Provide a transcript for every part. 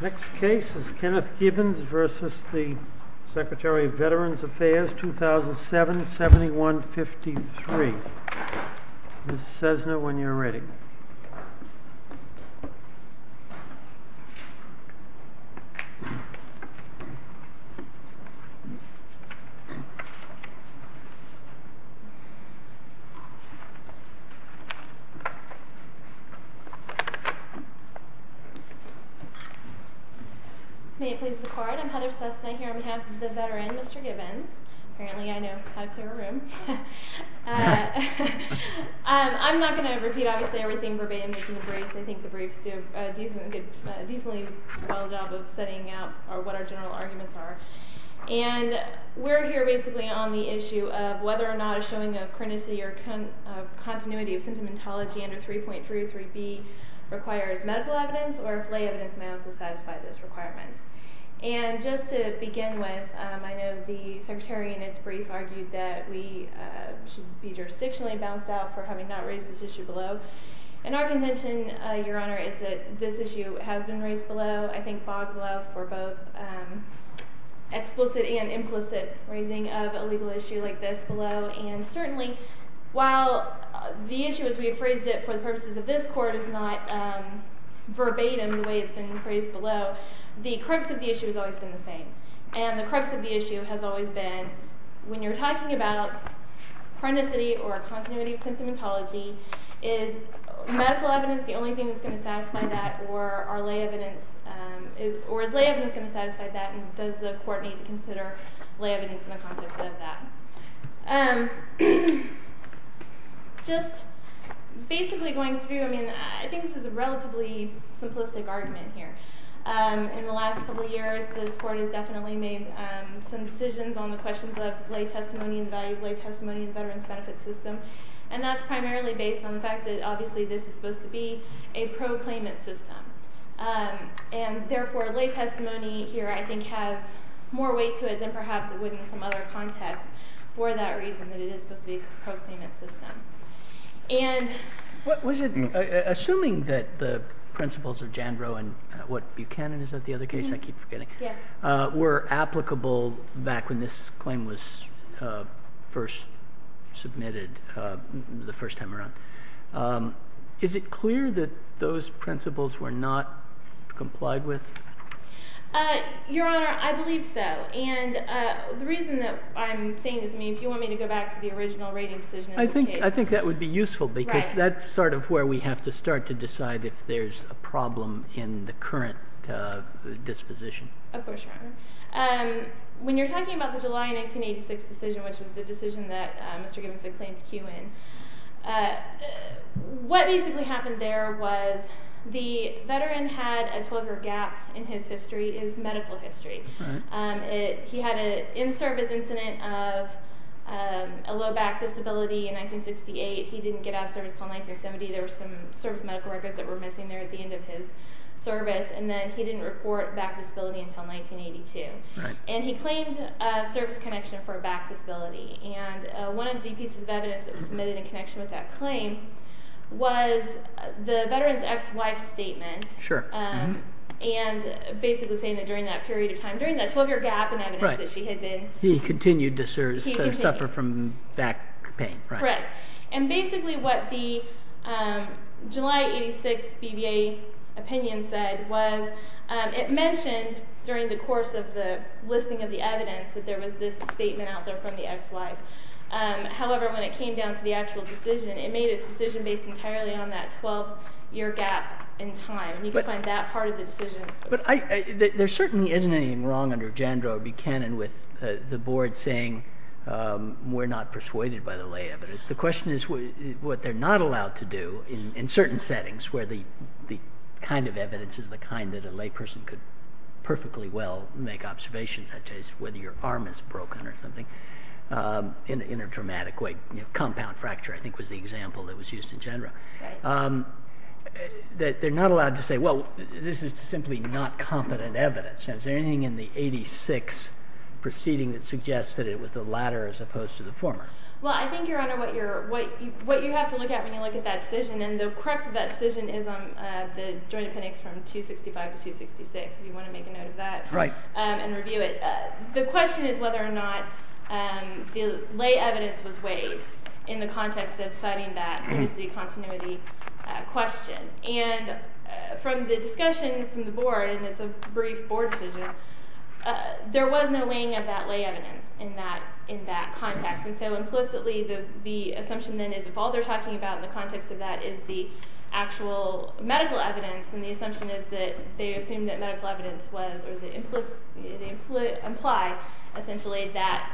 Next case is Kenneth Gibbons v. Secretary of Veterans Affairs, 2007, 7153. Ms. Cessna, when you're ready. May it please the Court, I'm Heather Cessna here on behalf of the veteran, Mr. Gibbons. Apparently I know how to clear a room. I'm not going to repeat obviously everything verbatim that's in the briefs. I think the briefs do a decently well job of setting out what our general arguments are. And we're here basically on the issue of whether or not a showing of chronicity or continuity of symptomatology under 3.33b requires medical evidence or if lay evidence may also satisfy those requirements. And just to begin with, I know the Secretary in its brief argued that we should be jurisdictionally bounced out for having not raised this issue below. And our contention, Your Honor, is that this issue has been raised below. I think FOGS allows for both explicit and implicit raising of a legal issue like this below. And certainly while the issue as we have phrased it for the purposes of this Court is not verbatim the way it's been phrased below, the crux of the issue has always been the same. And the crux of the issue has always been when you're talking about chronicity or continuity of symptomatology, is medical evidence the only thing that's going to satisfy that or is lay evidence going to satisfy that and does the Court need to consider lay evidence in the context of that? Just basically going through, I mean, I think this is a relatively simplistic argument here. In the last couple of years, this Court has definitely made some decisions on the questions of lay testimony and the value of lay testimony in the Veterans Benefit System. And that's primarily based on the fact that obviously this is supposed to be a proclaimant system. And therefore lay testimony here I think has more weight to it than perhaps it would in some other context for that reason, that it is supposed to be a proclaimant system. Assuming that the principles of Jandrow and what Buchanan, is that the other case? I keep forgetting. Yeah. Were applicable back when this claim was first submitted the first time around. Is it clear that those principles were not complied with? Your Honor, I believe so. And the reason that I'm saying this, I mean, if you want me to go back to the original rating decision in this case. I think that would be useful because that's sort of where we have to start to decide if there's a problem in the current disposition. Of course, Your Honor. When you're talking about the July 1986 decision, which was the decision that Mr. Gibbons had claimed to queue in, what basically happened there was the veteran had a 12-year gap in his history, his medical history. He had an in-service incident of a low back disability in 1968. He didn't get out of service until 1970. There were some service medical records that were missing there at the end of his service. And then he didn't report back disability until 1982. And he claimed service connection for a back disability. And one of the pieces of evidence that was submitted in connection with that claim was the veteran's ex-wife's statement. Sure. And basically saying that during that period of time, during that 12-year gap in evidence that she had been. He continued to serve, suffer from back pain. Correct. And basically what the July 1986 BBA opinion said was it mentioned during the course of the listing of the evidence that there was this statement out there from the ex-wife. However, when it came down to the actual decision, it made its decision based entirely on that 12-year gap in time. And you can find that part of the decision. But there certainly isn't anything wrong under Jandro B. Cannon with the board saying we're not persuaded by the lay evidence. The question is what they're not allowed to do in certain settings where the kind of evidence is the kind that a lay person could perfectly well make observations. Whether your arm is broken or something in a dramatic way. Compound fracture I think was the example that was used in Jandro. Right. That they're not allowed to say, well, this is simply not competent evidence. Is there anything in the 86 proceeding that suggests that it was the latter as opposed to the former? Well, I think, Your Honor, what you have to look at when you look at that decision. And the crux of that decision is on the joint appendix from 265 to 266, if you want to make a note of that. Right. And review it. The question is whether or not the lay evidence was weighed in the context of citing that continuity question. And from the discussion from the board, and it's a brief board decision, there was no weighing of that lay evidence in that context. And so implicitly the assumption then is if all they're talking about in the context of that is the actual medical evidence, then the assumption is that they assume that medical evidence was, or they imply, essentially, that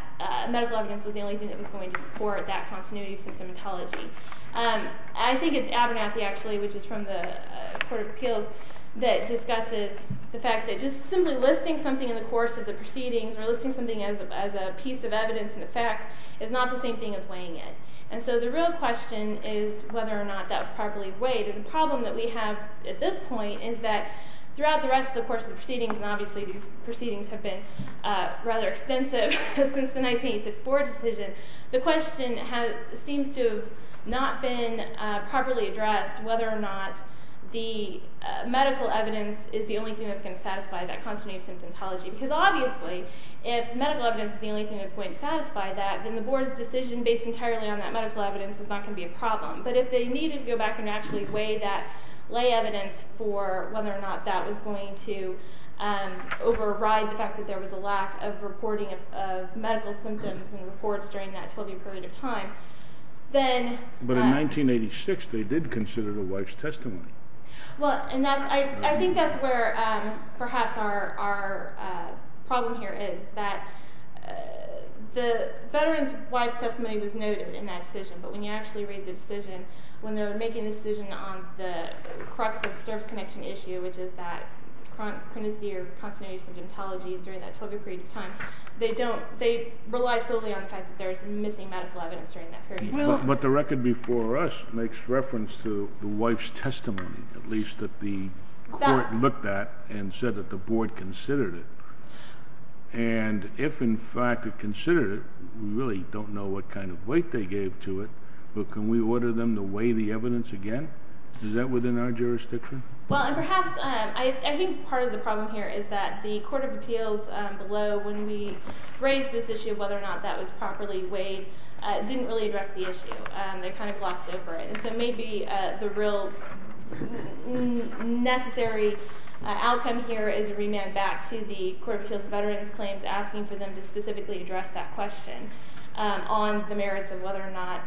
medical evidence was the only thing that was going to support that continuity of symptomatology. I think it's Abernathy, actually, which is from the Court of Appeals, that discusses the fact that just simply listing something in the course of the proceedings or listing something as a piece of evidence in effect is not the same thing as weighing it. And so the real question is whether or not that was properly weighed. And the problem that we have at this point is that throughout the rest of the course of the proceedings, and obviously these proceedings have been rather extensive since the 1986 board decision, the question seems to have not been properly addressed, whether or not the medical evidence is the only thing that's going to satisfy that continuity of symptomatology. Because obviously if medical evidence is the only thing that's going to satisfy that, then the board's decision based entirely on that medical evidence is not going to be a problem. But if they needed to go back and actually weigh that, lay evidence for whether or not that was going to override the fact that there was a lack of reporting of medical symptoms and reports during that 12-year period of time, then... But in 1986 they did consider the wife's testimony. Well, and I think that's where perhaps our problem here is, that the veteran's wife's testimony was noted in that decision, but when you actually read the decision, when they're making the decision on the crux of the service connection issue, which is that courtesy or continuity of symptomatology during that 12-year period of time, they rely solely on the fact that there's missing medical evidence during that period of time. But the record before us makes reference to the wife's testimony, at least that the court looked at and said that the board considered it. And if in fact it considered it, we really don't know what kind of weight they gave to it, but can we order them to weigh the evidence again? Is that within our jurisdiction? Well, and perhaps, I think part of the problem here is that the Court of Appeals below, when we raised this issue of whether or not that was properly weighed, didn't really address the issue. They kind of glossed over it. And so maybe the real necessary outcome here is a remand back to the Court of Appeals Veterans Claims, asking for them to specifically address that question on the merits of whether or not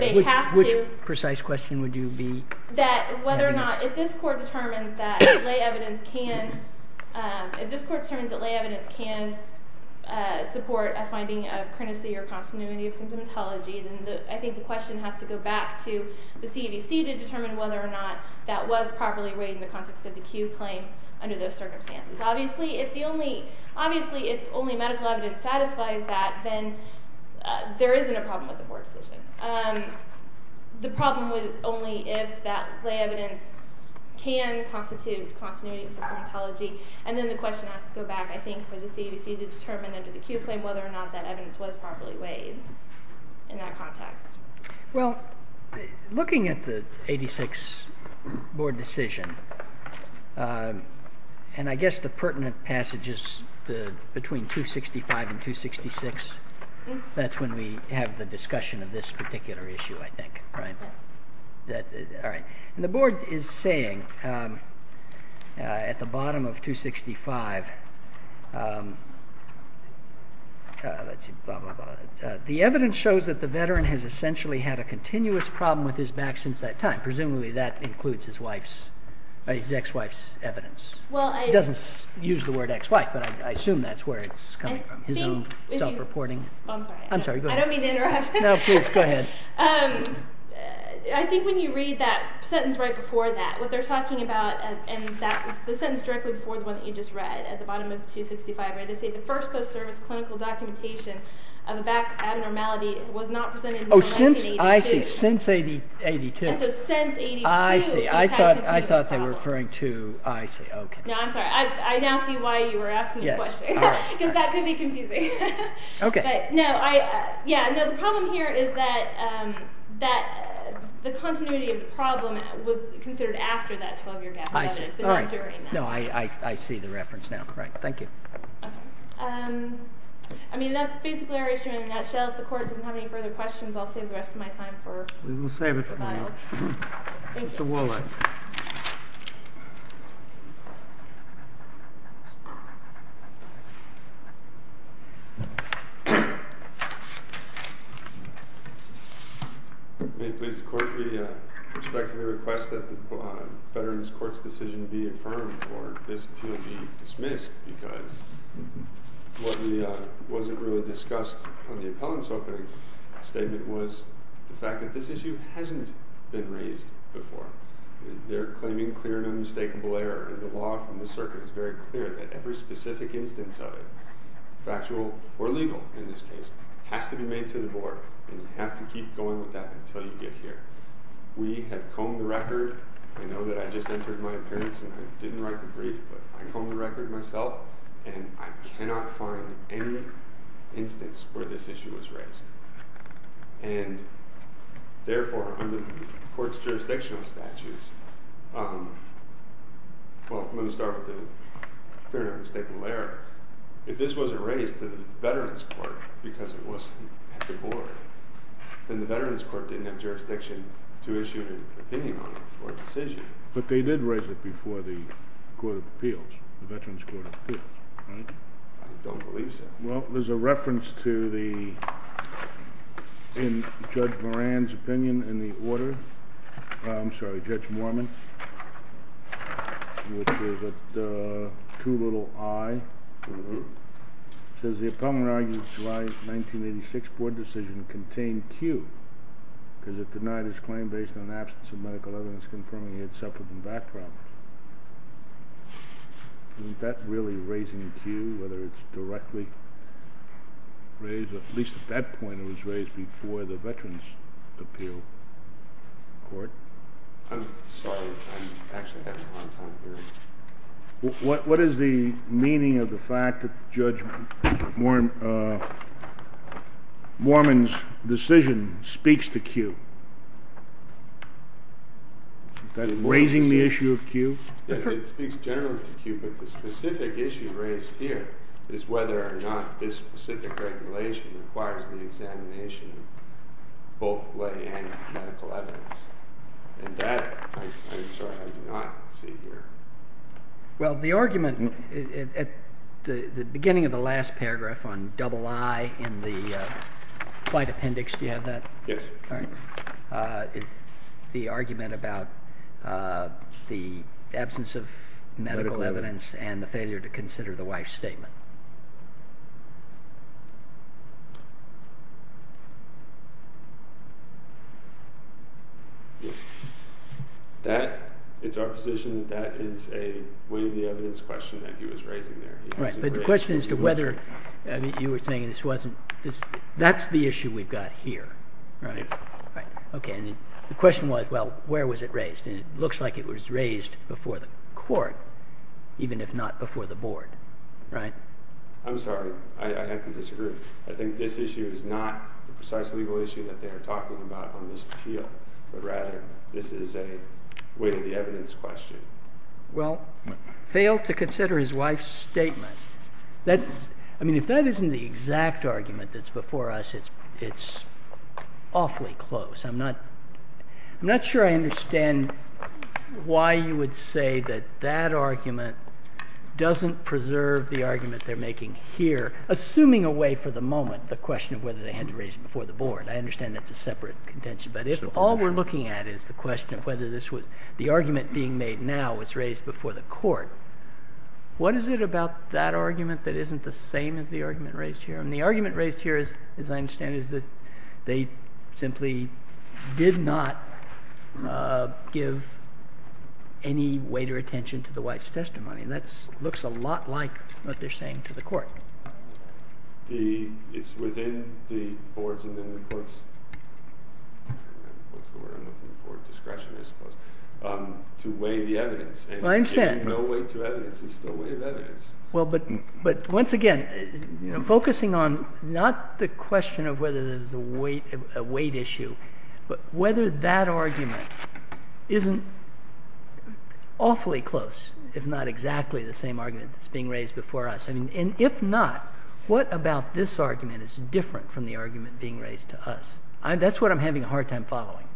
they have to. Which precise question would you be? That whether or not, if this Court determines that lay evidence can support a finding of courtesy or continuity of symptomatology, then I think the question has to go back to the CAVC to determine whether or not that was properly weighed in the context of the CUE claim under those circumstances. Obviously, if only medical evidence satisfies that, then there isn't a problem with the board's decision. The problem is only if that lay evidence can constitute continuity of symptomatology. And then the question has to go back, I think, for the CAVC to determine under the CUE claim whether or not that evidence was properly weighed in that context. Well, looking at the 86 board decision, and I guess the pertinent passages between 265 and 266, that's when we have the discussion of this particular issue, I think, right? Yes. All right. And the board is saying at the bottom of 265, let's see, blah, blah, blah. The evidence shows that the veteran has essentially had a continuous problem with his back since that time. Presumably that includes his ex-wife's evidence. It doesn't use the word ex-wife, but I assume that's where it's coming from, his own self-reporting. I'm sorry. I'm sorry, go ahead. I don't mean to interrupt. No, please, go ahead. I think when you read that sentence right before that, what they're talking about, and that's the sentence directly before the one that you just read at the bottom of 265, where they say the first post-service clinical documentation of a back abnormality was not presented until 1982. Oh, since, I see, since 1982. And so since 1982, he's had continuous problems. I see, I thought they were referring to, I see, okay. No, I'm sorry, I now see why you were asking the question. Yes, all right. Because that could be confusing. Okay. But, no, I, yeah, no, the problem here is that the continuity of the problem was considered after that 12-year gap. I see, all right. But not during that time. No, I see the reference now, right. Thank you. Okay. I mean, that's basically our issue in a nutshell. If the Court doesn't have any further questions, I'll save the rest of my time for the final. We will save it for the final. Thank you. Mr. Wallach. May it please the Court, we respectfully request that the Veterans Court's decision be affirmed or this appeal be dismissed because what wasn't really discussed on the appellant's opening statement was the fact that this issue hasn't been raised before. They're claiming clear and unmistakable error. The law from the circuit is very clear that every specific instance of it, factual or legal in this case, has to be made to the Board, and you have to keep going with that until you get here. We have combed the record. I know that I just entered my appearance and I didn't write the brief, but I combed the record myself, and I cannot find any instance where this issue was raised. And, therefore, under the Court's jurisdictional statutes, well, let me start with the clear and unmistakable error. If this wasn't raised to the Veterans Court because it wasn't at the Board, then the Veterans Court didn't have jurisdiction to issue an opinion on it or a decision. But they did raise it before the Court of Appeals, the Veterans Court of Appeals, right? I don't believe so. Well, there's a reference to the, in Judge Moran's opinion, in the order. I'm sorry, Judge Mormon, which is at 2 little i. It says the opponent argued that July 1986 Board decision contained Q because it denied his claim based on absence of medical evidence confirming he had suffered from back problems. Isn't that really raising Q, whether it's directly raised, or at least at that point it was raised before the Veterans Appeal Court? I'm sorry. I'm actually having a hard time hearing. What is the meaning of the fact that Judge Mormon's decision speaks to Q? Is that raising the issue of Q? It speaks generally to Q, but the specific issue raised here is whether or not this specific regulation requires the examination of both lay and medical evidence. And that, I'm sorry, I do not see here. Well, the argument at the beginning of the last paragraph on double i in the fight appendix, do you have that? Yes. The argument about the absence of medical evidence and the failure to consider the wife's statement. It's our position that that is a weight of the evidence question that he was raising there. Right, but the question is to whether, you were saying this wasn't, that's the issue we've got here, right? Yes. Okay, and the question was, well, where was it raised? And it looks like it was raised before the court, even if not before the board, right? I'm sorry. I have to disagree. I think this issue is not the precise legal issue that they are talking about on this appeal, but rather this is a weight of the evidence question. Well, failed to consider his wife's statement. I mean, if that isn't the exact argument that's before us, it's awfully close. I'm not sure I understand why you would say that that argument doesn't preserve the argument they're making here, assuming away for the moment the question of whether they had to raise it before the board. I understand that's a separate contention. But if all we're looking at is the question of whether the argument being made now was raised before the court, what is it about that argument that isn't the same as the argument raised here? And the argument raised here, as I understand it, is that they simply did not give any weight or attention to the wife's testimony. That looks a lot like what they're saying to the court. It's within the board's and then the court's discretion, I suppose, to weigh the evidence. I understand. And giving no weight to evidence is still weight of evidence. Well, but once again, focusing on not the question of whether there's a weight issue, but whether that argument isn't awfully close, if not exactly the same argument that's being raised before us. And if not, what about this argument is different from the argument being raised to us? That's what I'm having a hard time following.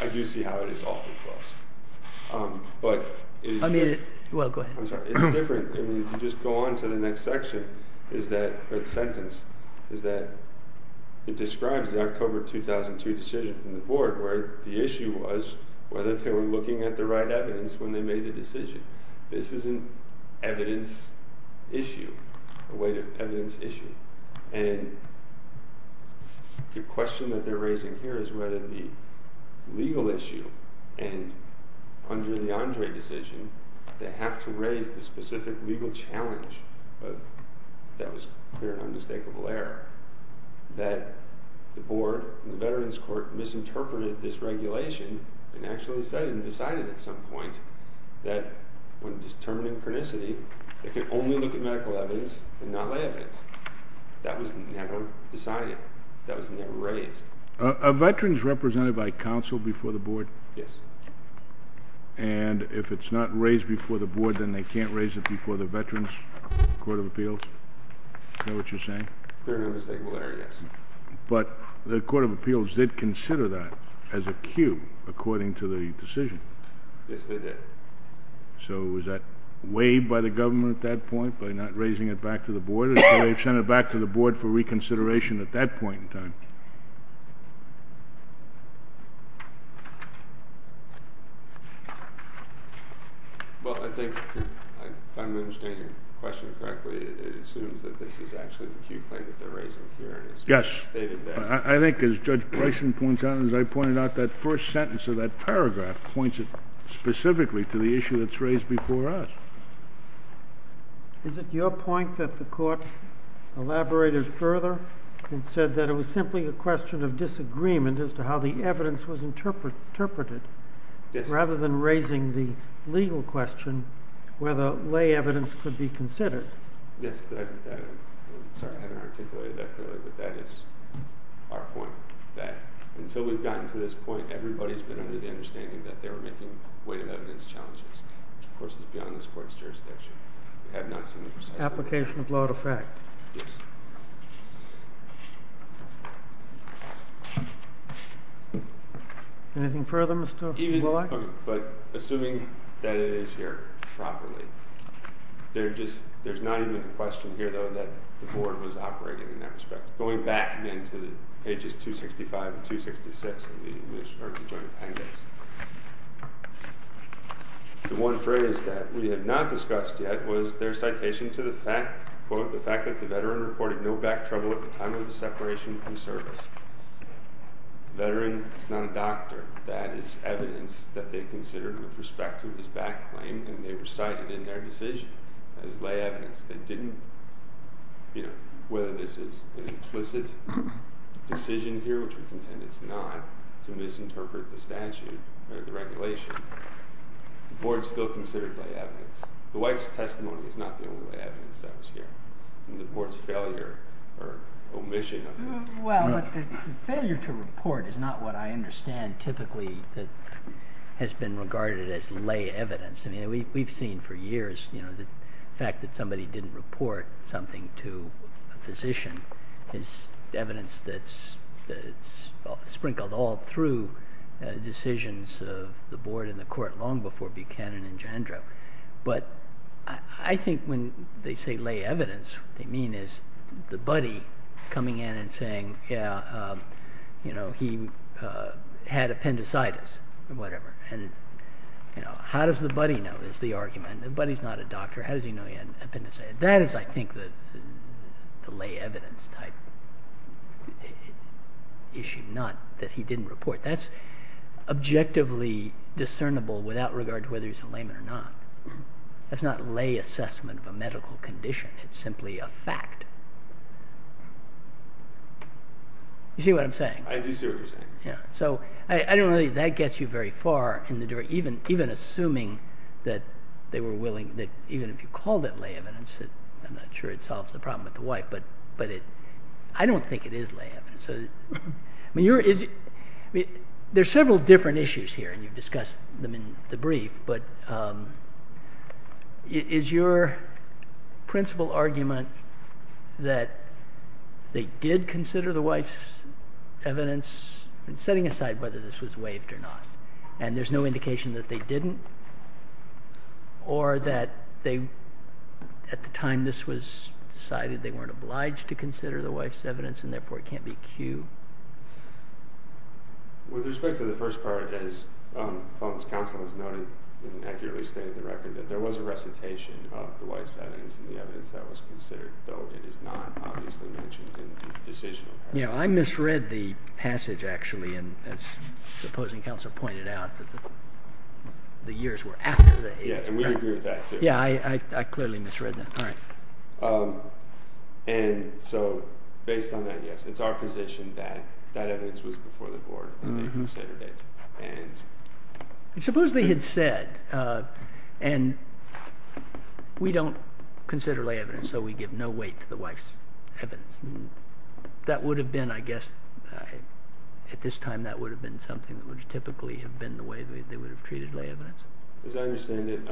I do see how it is awfully close. But it is different. Well, go ahead. I'm sorry. It's different. I mean, if you just go on to the next section is that sentence is that it describes the October 2002 decision from the board where the issue was whether they were looking at the right evidence when they made the decision. This is an evidence issue, a weight of evidence issue. And the question that they're raising here is whether the legal issue and under the Andre decision, they have to raise the specific legal challenge of that was clear and undistinguishable error, that the board, the veterans court, misinterpreted this regulation and actually decided at some point that when determining chronicity, they can only look at medical evidence and not lay evidence. That was never decided. That was never raised. Are veterans represented by counsel before the board? Yes. And if it's not raised before the board, then they can't raise it before the veterans court of appeals? Is that what you're saying? Clear and unmistakable error, yes. But the court of appeals did consider that as a cue according to the decision. Yes, they did. So was that weighed by the government at that point by not raising it back to the board? Or did they send it back to the board for reconsideration at that point in time? Well, I think if I'm understanding your question correctly, it assumes that this is actually the cue play that they're raising here. Yes. I think as Judge Bryson points out and as I pointed out, that first sentence of that paragraph points specifically to the issue that's raised before us. Is it your point that the court elaborated further and said that it was simply a question of disagreement as to how the evidence was interpreted rather than raising the legal question whether lay evidence could be considered? Yes. Sorry, I haven't articulated that clearly. But that is our point, that until we've gotten to this point, everybody's been under the understanding that they were making weighted evidence challenges, which, of course, is beyond this court's jurisdiction. We have not seen it precisely. Application of law to fact. Yes. Anything further, Mr. Blight? But assuming that it is here properly, there's not even a question here, though, that the board was operating in that respect, going back into pages 265 and 266 of the joint appendix. The one phrase that we have not discussed yet was their citation to the fact, quote, the fact that the veteran reported no back trouble at the time of the separation from service. Veteran is not a doctor. That is evidence that they considered with respect to his back claim, and they recited in their decision as lay evidence. They didn't, you know, whether this is an implicit decision here, which we contend it's not, to misinterpret the statute or the regulation, the board still considered lay evidence. The wife's testimony is not the only evidence that was here, and the board's failure or omission of it. Well, the failure to report is not what I understand typically that has been regarded as lay evidence. I mean, we've seen for years, you know, the fact that somebody didn't report something to a physician is evidence that's sprinkled all through decisions of the board and the court long before Buchanan and Jandra. But I think when they say lay evidence, what they mean is the buddy coming in and saying, yeah, you know, he had appendicitis or whatever. And, you know, how does the buddy know is the argument. The buddy's not a doctor. How does he know he had appendicitis? That is, I think, the lay evidence type issue, not that he didn't report. That's objectively discernible without regard to whether he's a layman or not. That's not lay assessment of a medical condition. It's simply a fact. I do see what you're saying. So I don't think that gets you very far, even assuming that they were willing, that even if you called it lay evidence, I'm not sure it solves the problem with the wife. But I don't think it is lay evidence. I mean, there are several different issues here, and you've discussed them in the brief. But is your principal argument that they did consider the wife's evidence, and setting aside whether this was waived or not, and there's no indication that they didn't, or that at the time this was decided they weren't obliged to consider the wife's evidence and therefore it can't be cued? With respect to the first part, as Fulton's counsel has noted and accurately stated in the record, that there was a recitation of the wife's evidence and the evidence that was considered, though it is not obviously mentioned in the decision. I misread the passage, actually, and as the opposing counsel pointed out, that the years were after the age of pregnancy. Yeah, and we agree with that, too. Yeah, I clearly misread that. And so based on that, yes, it's our position that that evidence was before the board when they considered it. Supposedly it said, and we don't consider lay evidence, so we give no weight to the wife's evidence. That would have been, I guess, at this time, that would have been something that would typically have been the way they would have treated lay evidence. As I understand it,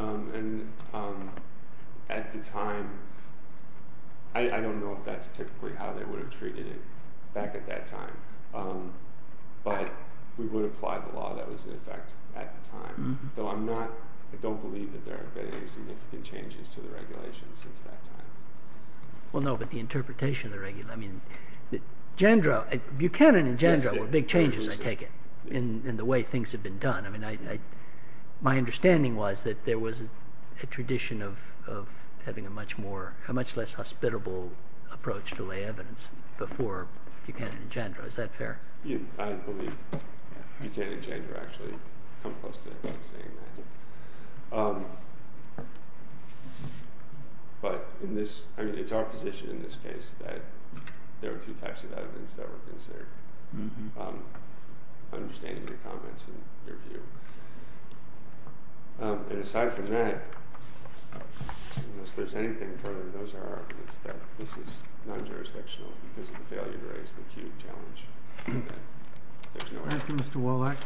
at the time, I don't know if that's typically how they would have treated it back at that time, but we would apply the law that was in effect at the time. Though I don't believe that there have been any significant changes to the regulation since that time. Well, no, but the interpretation of the regulation, I mean, Buchanan and Jandro were big changes, I take it, in the way things have been done. My understanding was that there was a tradition of having a much more, a much less hospitable approach to lay evidence before Buchanan and Jandro. Is that fair? I believe Buchanan and Jandro actually come close to saying that. But in this, I mean, it's our position in this case that there were two types of evidence that were considered. I understand your comments and your view. And aside from that, unless there's anything further, those are our arguments there. This is non-jurisdictional. This is a failure to raise the acute challenge. Thank you, Mr. Wolak.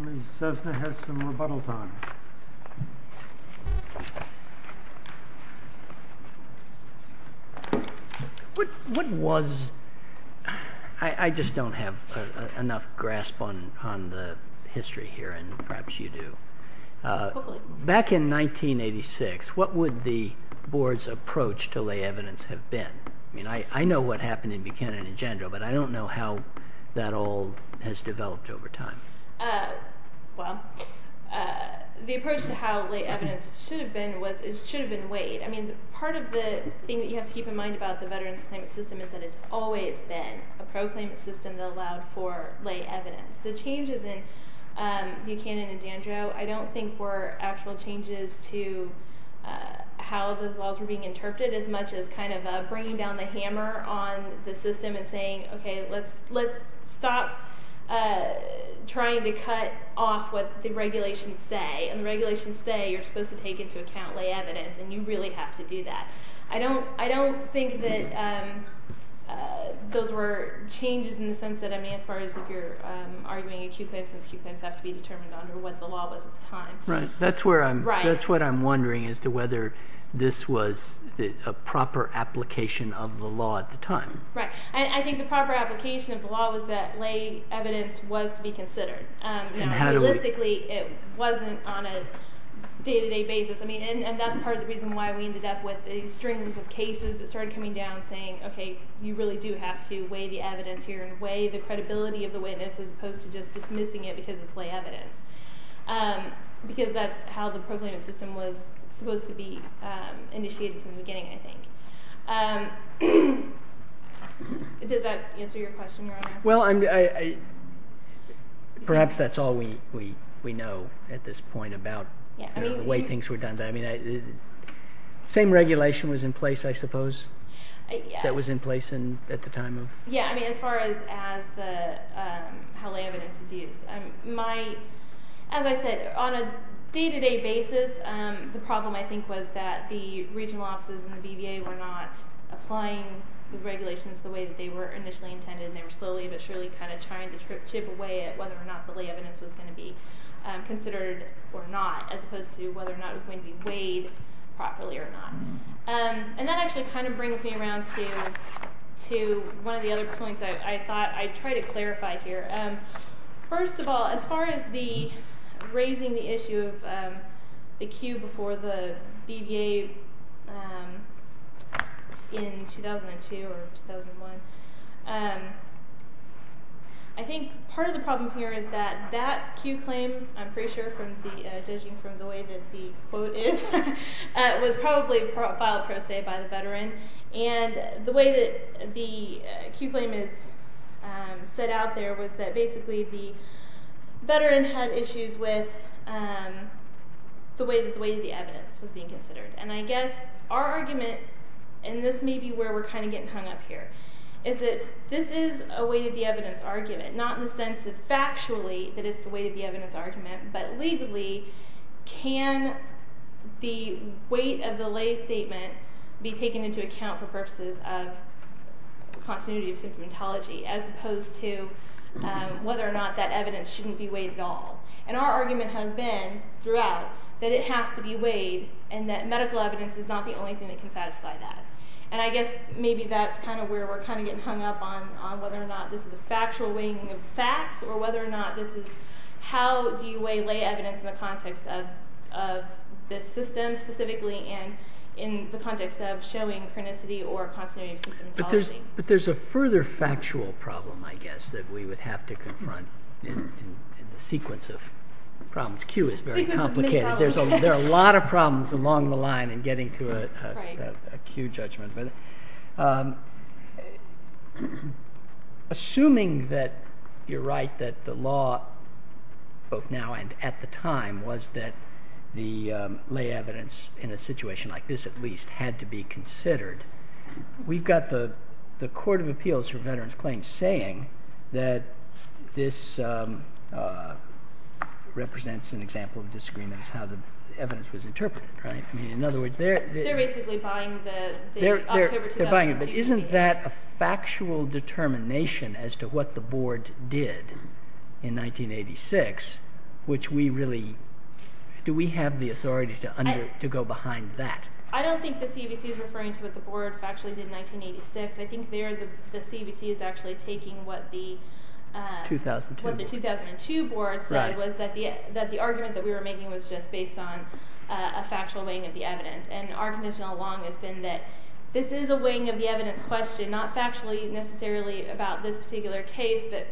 Ms. Cessna has some rebuttal time. What was, I just don't have enough grasp on the history here, and perhaps you do. Back in 1986, what would the board's approach to lay evidence have been? I mean, I know what happened in Buchanan and Jandro, but I don't know how that all has developed over time. Well, the approach to how lay evidence should have been was, it should have been weighed. I mean, part of the thing that you have to keep in mind about the Veterans Claimant System is that it's always been a pro-claimant system that allowed for lay evidence. The changes in Buchanan and Jandro, I don't think were actual changes to how those laws were being interpreted, as much as kind of bringing down the hammer on the system and saying, okay, let's stop trying to cut off what the regulations say. And the regulations say you're supposed to take into account lay evidence, and you really have to do that. I don't think that those were changes in the sense that, I mean, as far as if you're arguing acute claims, since acute claims have to be determined under what the law was at the time. Right. That's what I'm wondering, as to whether this was a proper application of the law at the time. Right. I think the proper application of the law was that lay evidence was to be considered. Realistically, it wasn't on a day-to-day basis. And that's part of the reason why we ended up with these strings of cases that started coming down saying, okay, you really do have to weigh the evidence here and weigh the credibility of the witness as opposed to just dismissing it because it's lay evidence. Because that's how the pro-claimant system was supposed to be initiated from the beginning, I think. Does that answer your question, Your Honor? Well, perhaps that's all we know at this point about the way things were done. I mean, the same regulation was in place, I suppose, that was in place at the time. Yeah, I mean, as far as how lay evidence is used. As I said, on a day-to-day basis, the problem, I think, was that the regional offices in the BVA were not applying the regulations the way that they were initially intended, and they were slowly but surely kind of trying to chip away at whether or not the lay evidence was going to be considered or not as opposed to whether or not it was going to be weighed properly or not. And that actually kind of brings me around to one of the other points I thought I'd try to clarify here. First of all, as far as raising the issue of the cue before the BVA in 2002 or 2001, I think part of the problem here is that that cue claim, I'm pretty sure judging from the way that the quote is, was probably filed pro se by the veteran. And the way that the cue claim is set out there was that basically the veteran had issues with the way that the evidence was being considered. And I guess our argument, and this may be where we're kind of getting hung up here, is that this is a weight-of-the-evidence argument, not in the sense that factually that it's the weight-of-the-evidence argument, but legally can the weight of the lay statement be taken into account for purposes of continuity of symptomatology as opposed to whether or not that evidence shouldn't be weighed at all. And our argument has been throughout that it has to be weighed and that medical evidence is not the only thing that can satisfy that. And I guess maybe that's kind of where we're kind of getting hung up on whether or not this is a factual weighing of facts or whether or not this is how do you weigh lay evidence in the context of this system, specifically in the context of showing chronicity or continuity of symptomatology. But there's a further factual problem, I guess, that we would have to confront in the sequence of problems. The cue is very complicated. There are a lot of problems along the line in getting to a cue judgment. Assuming that you're right that the law, both now and at the time, was that the lay evidence in a situation like this at least had to be considered, we've got the Court of Appeals for Veterans Claims saying that this represents an example of disagreements, how the evidence was interpreted. They're basically buying the October 2002 case. Isn't that a factual determination as to what the Board did in 1986? Do we have the authority to go behind that? I don't think the CBC is referring to what the Board factually did in 1986. I think there the CBC is actually taking what the 2002 Board said was that the argument that we were making was just based on a factual weighing of the evidence. Our condition along has been that this is a weighing of the evidence question, not factually necessarily about this particular case, but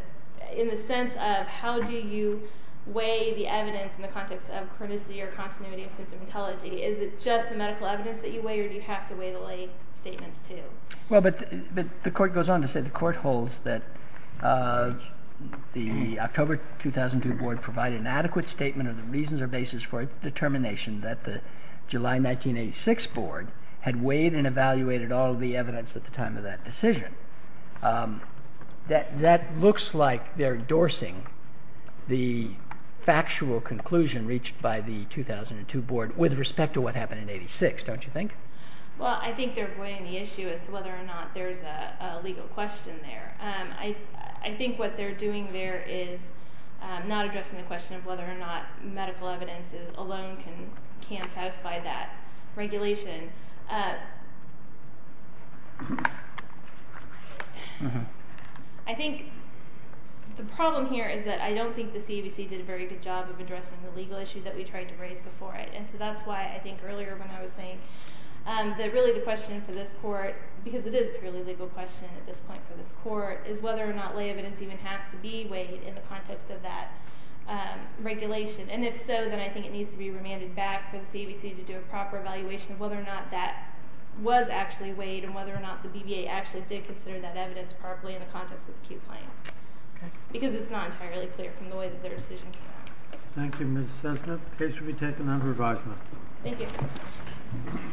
in the sense of how do you weigh the evidence in the context of chronicity or continuity of symptomatology. Is it just the medical evidence that you weigh or do you have to weigh the lay statements too? Well, but the Court goes on to say the Court holds that the October 2002 Board provided an adequate statement of the reasons or basis for determination that the July 1986 Board had weighed and evaluated all of the evidence at the time of that decision. That looks like they're endorsing the factual conclusion reached by the 2002 Board with respect to what happened in 86, don't you think? Well, I think they're avoiding the issue as to whether or not there's a legal question there. I think what they're doing there is not addressing the question of whether or not medical evidence alone can satisfy that regulation. I think the problem here is that I don't think the CBC did a very good job of addressing the legal issue that we tried to raise before. And so that's why I think earlier when I was saying that really the question for this Court, because it is a purely legal question at this point for this Court, is whether or not lay evidence even has to be weighed in the context of that regulation. And if so, then I think it needs to be remanded back for the CBC to do a proper evaluation of whether or not that was actually weighed and whether or not the BBA actually did consider that evidence properly in the context of the acute plan. Because it's not entirely clear from the way that their decision came out. Thank you, Ms. Sesniff. The case will be taken under revisement. Thank you.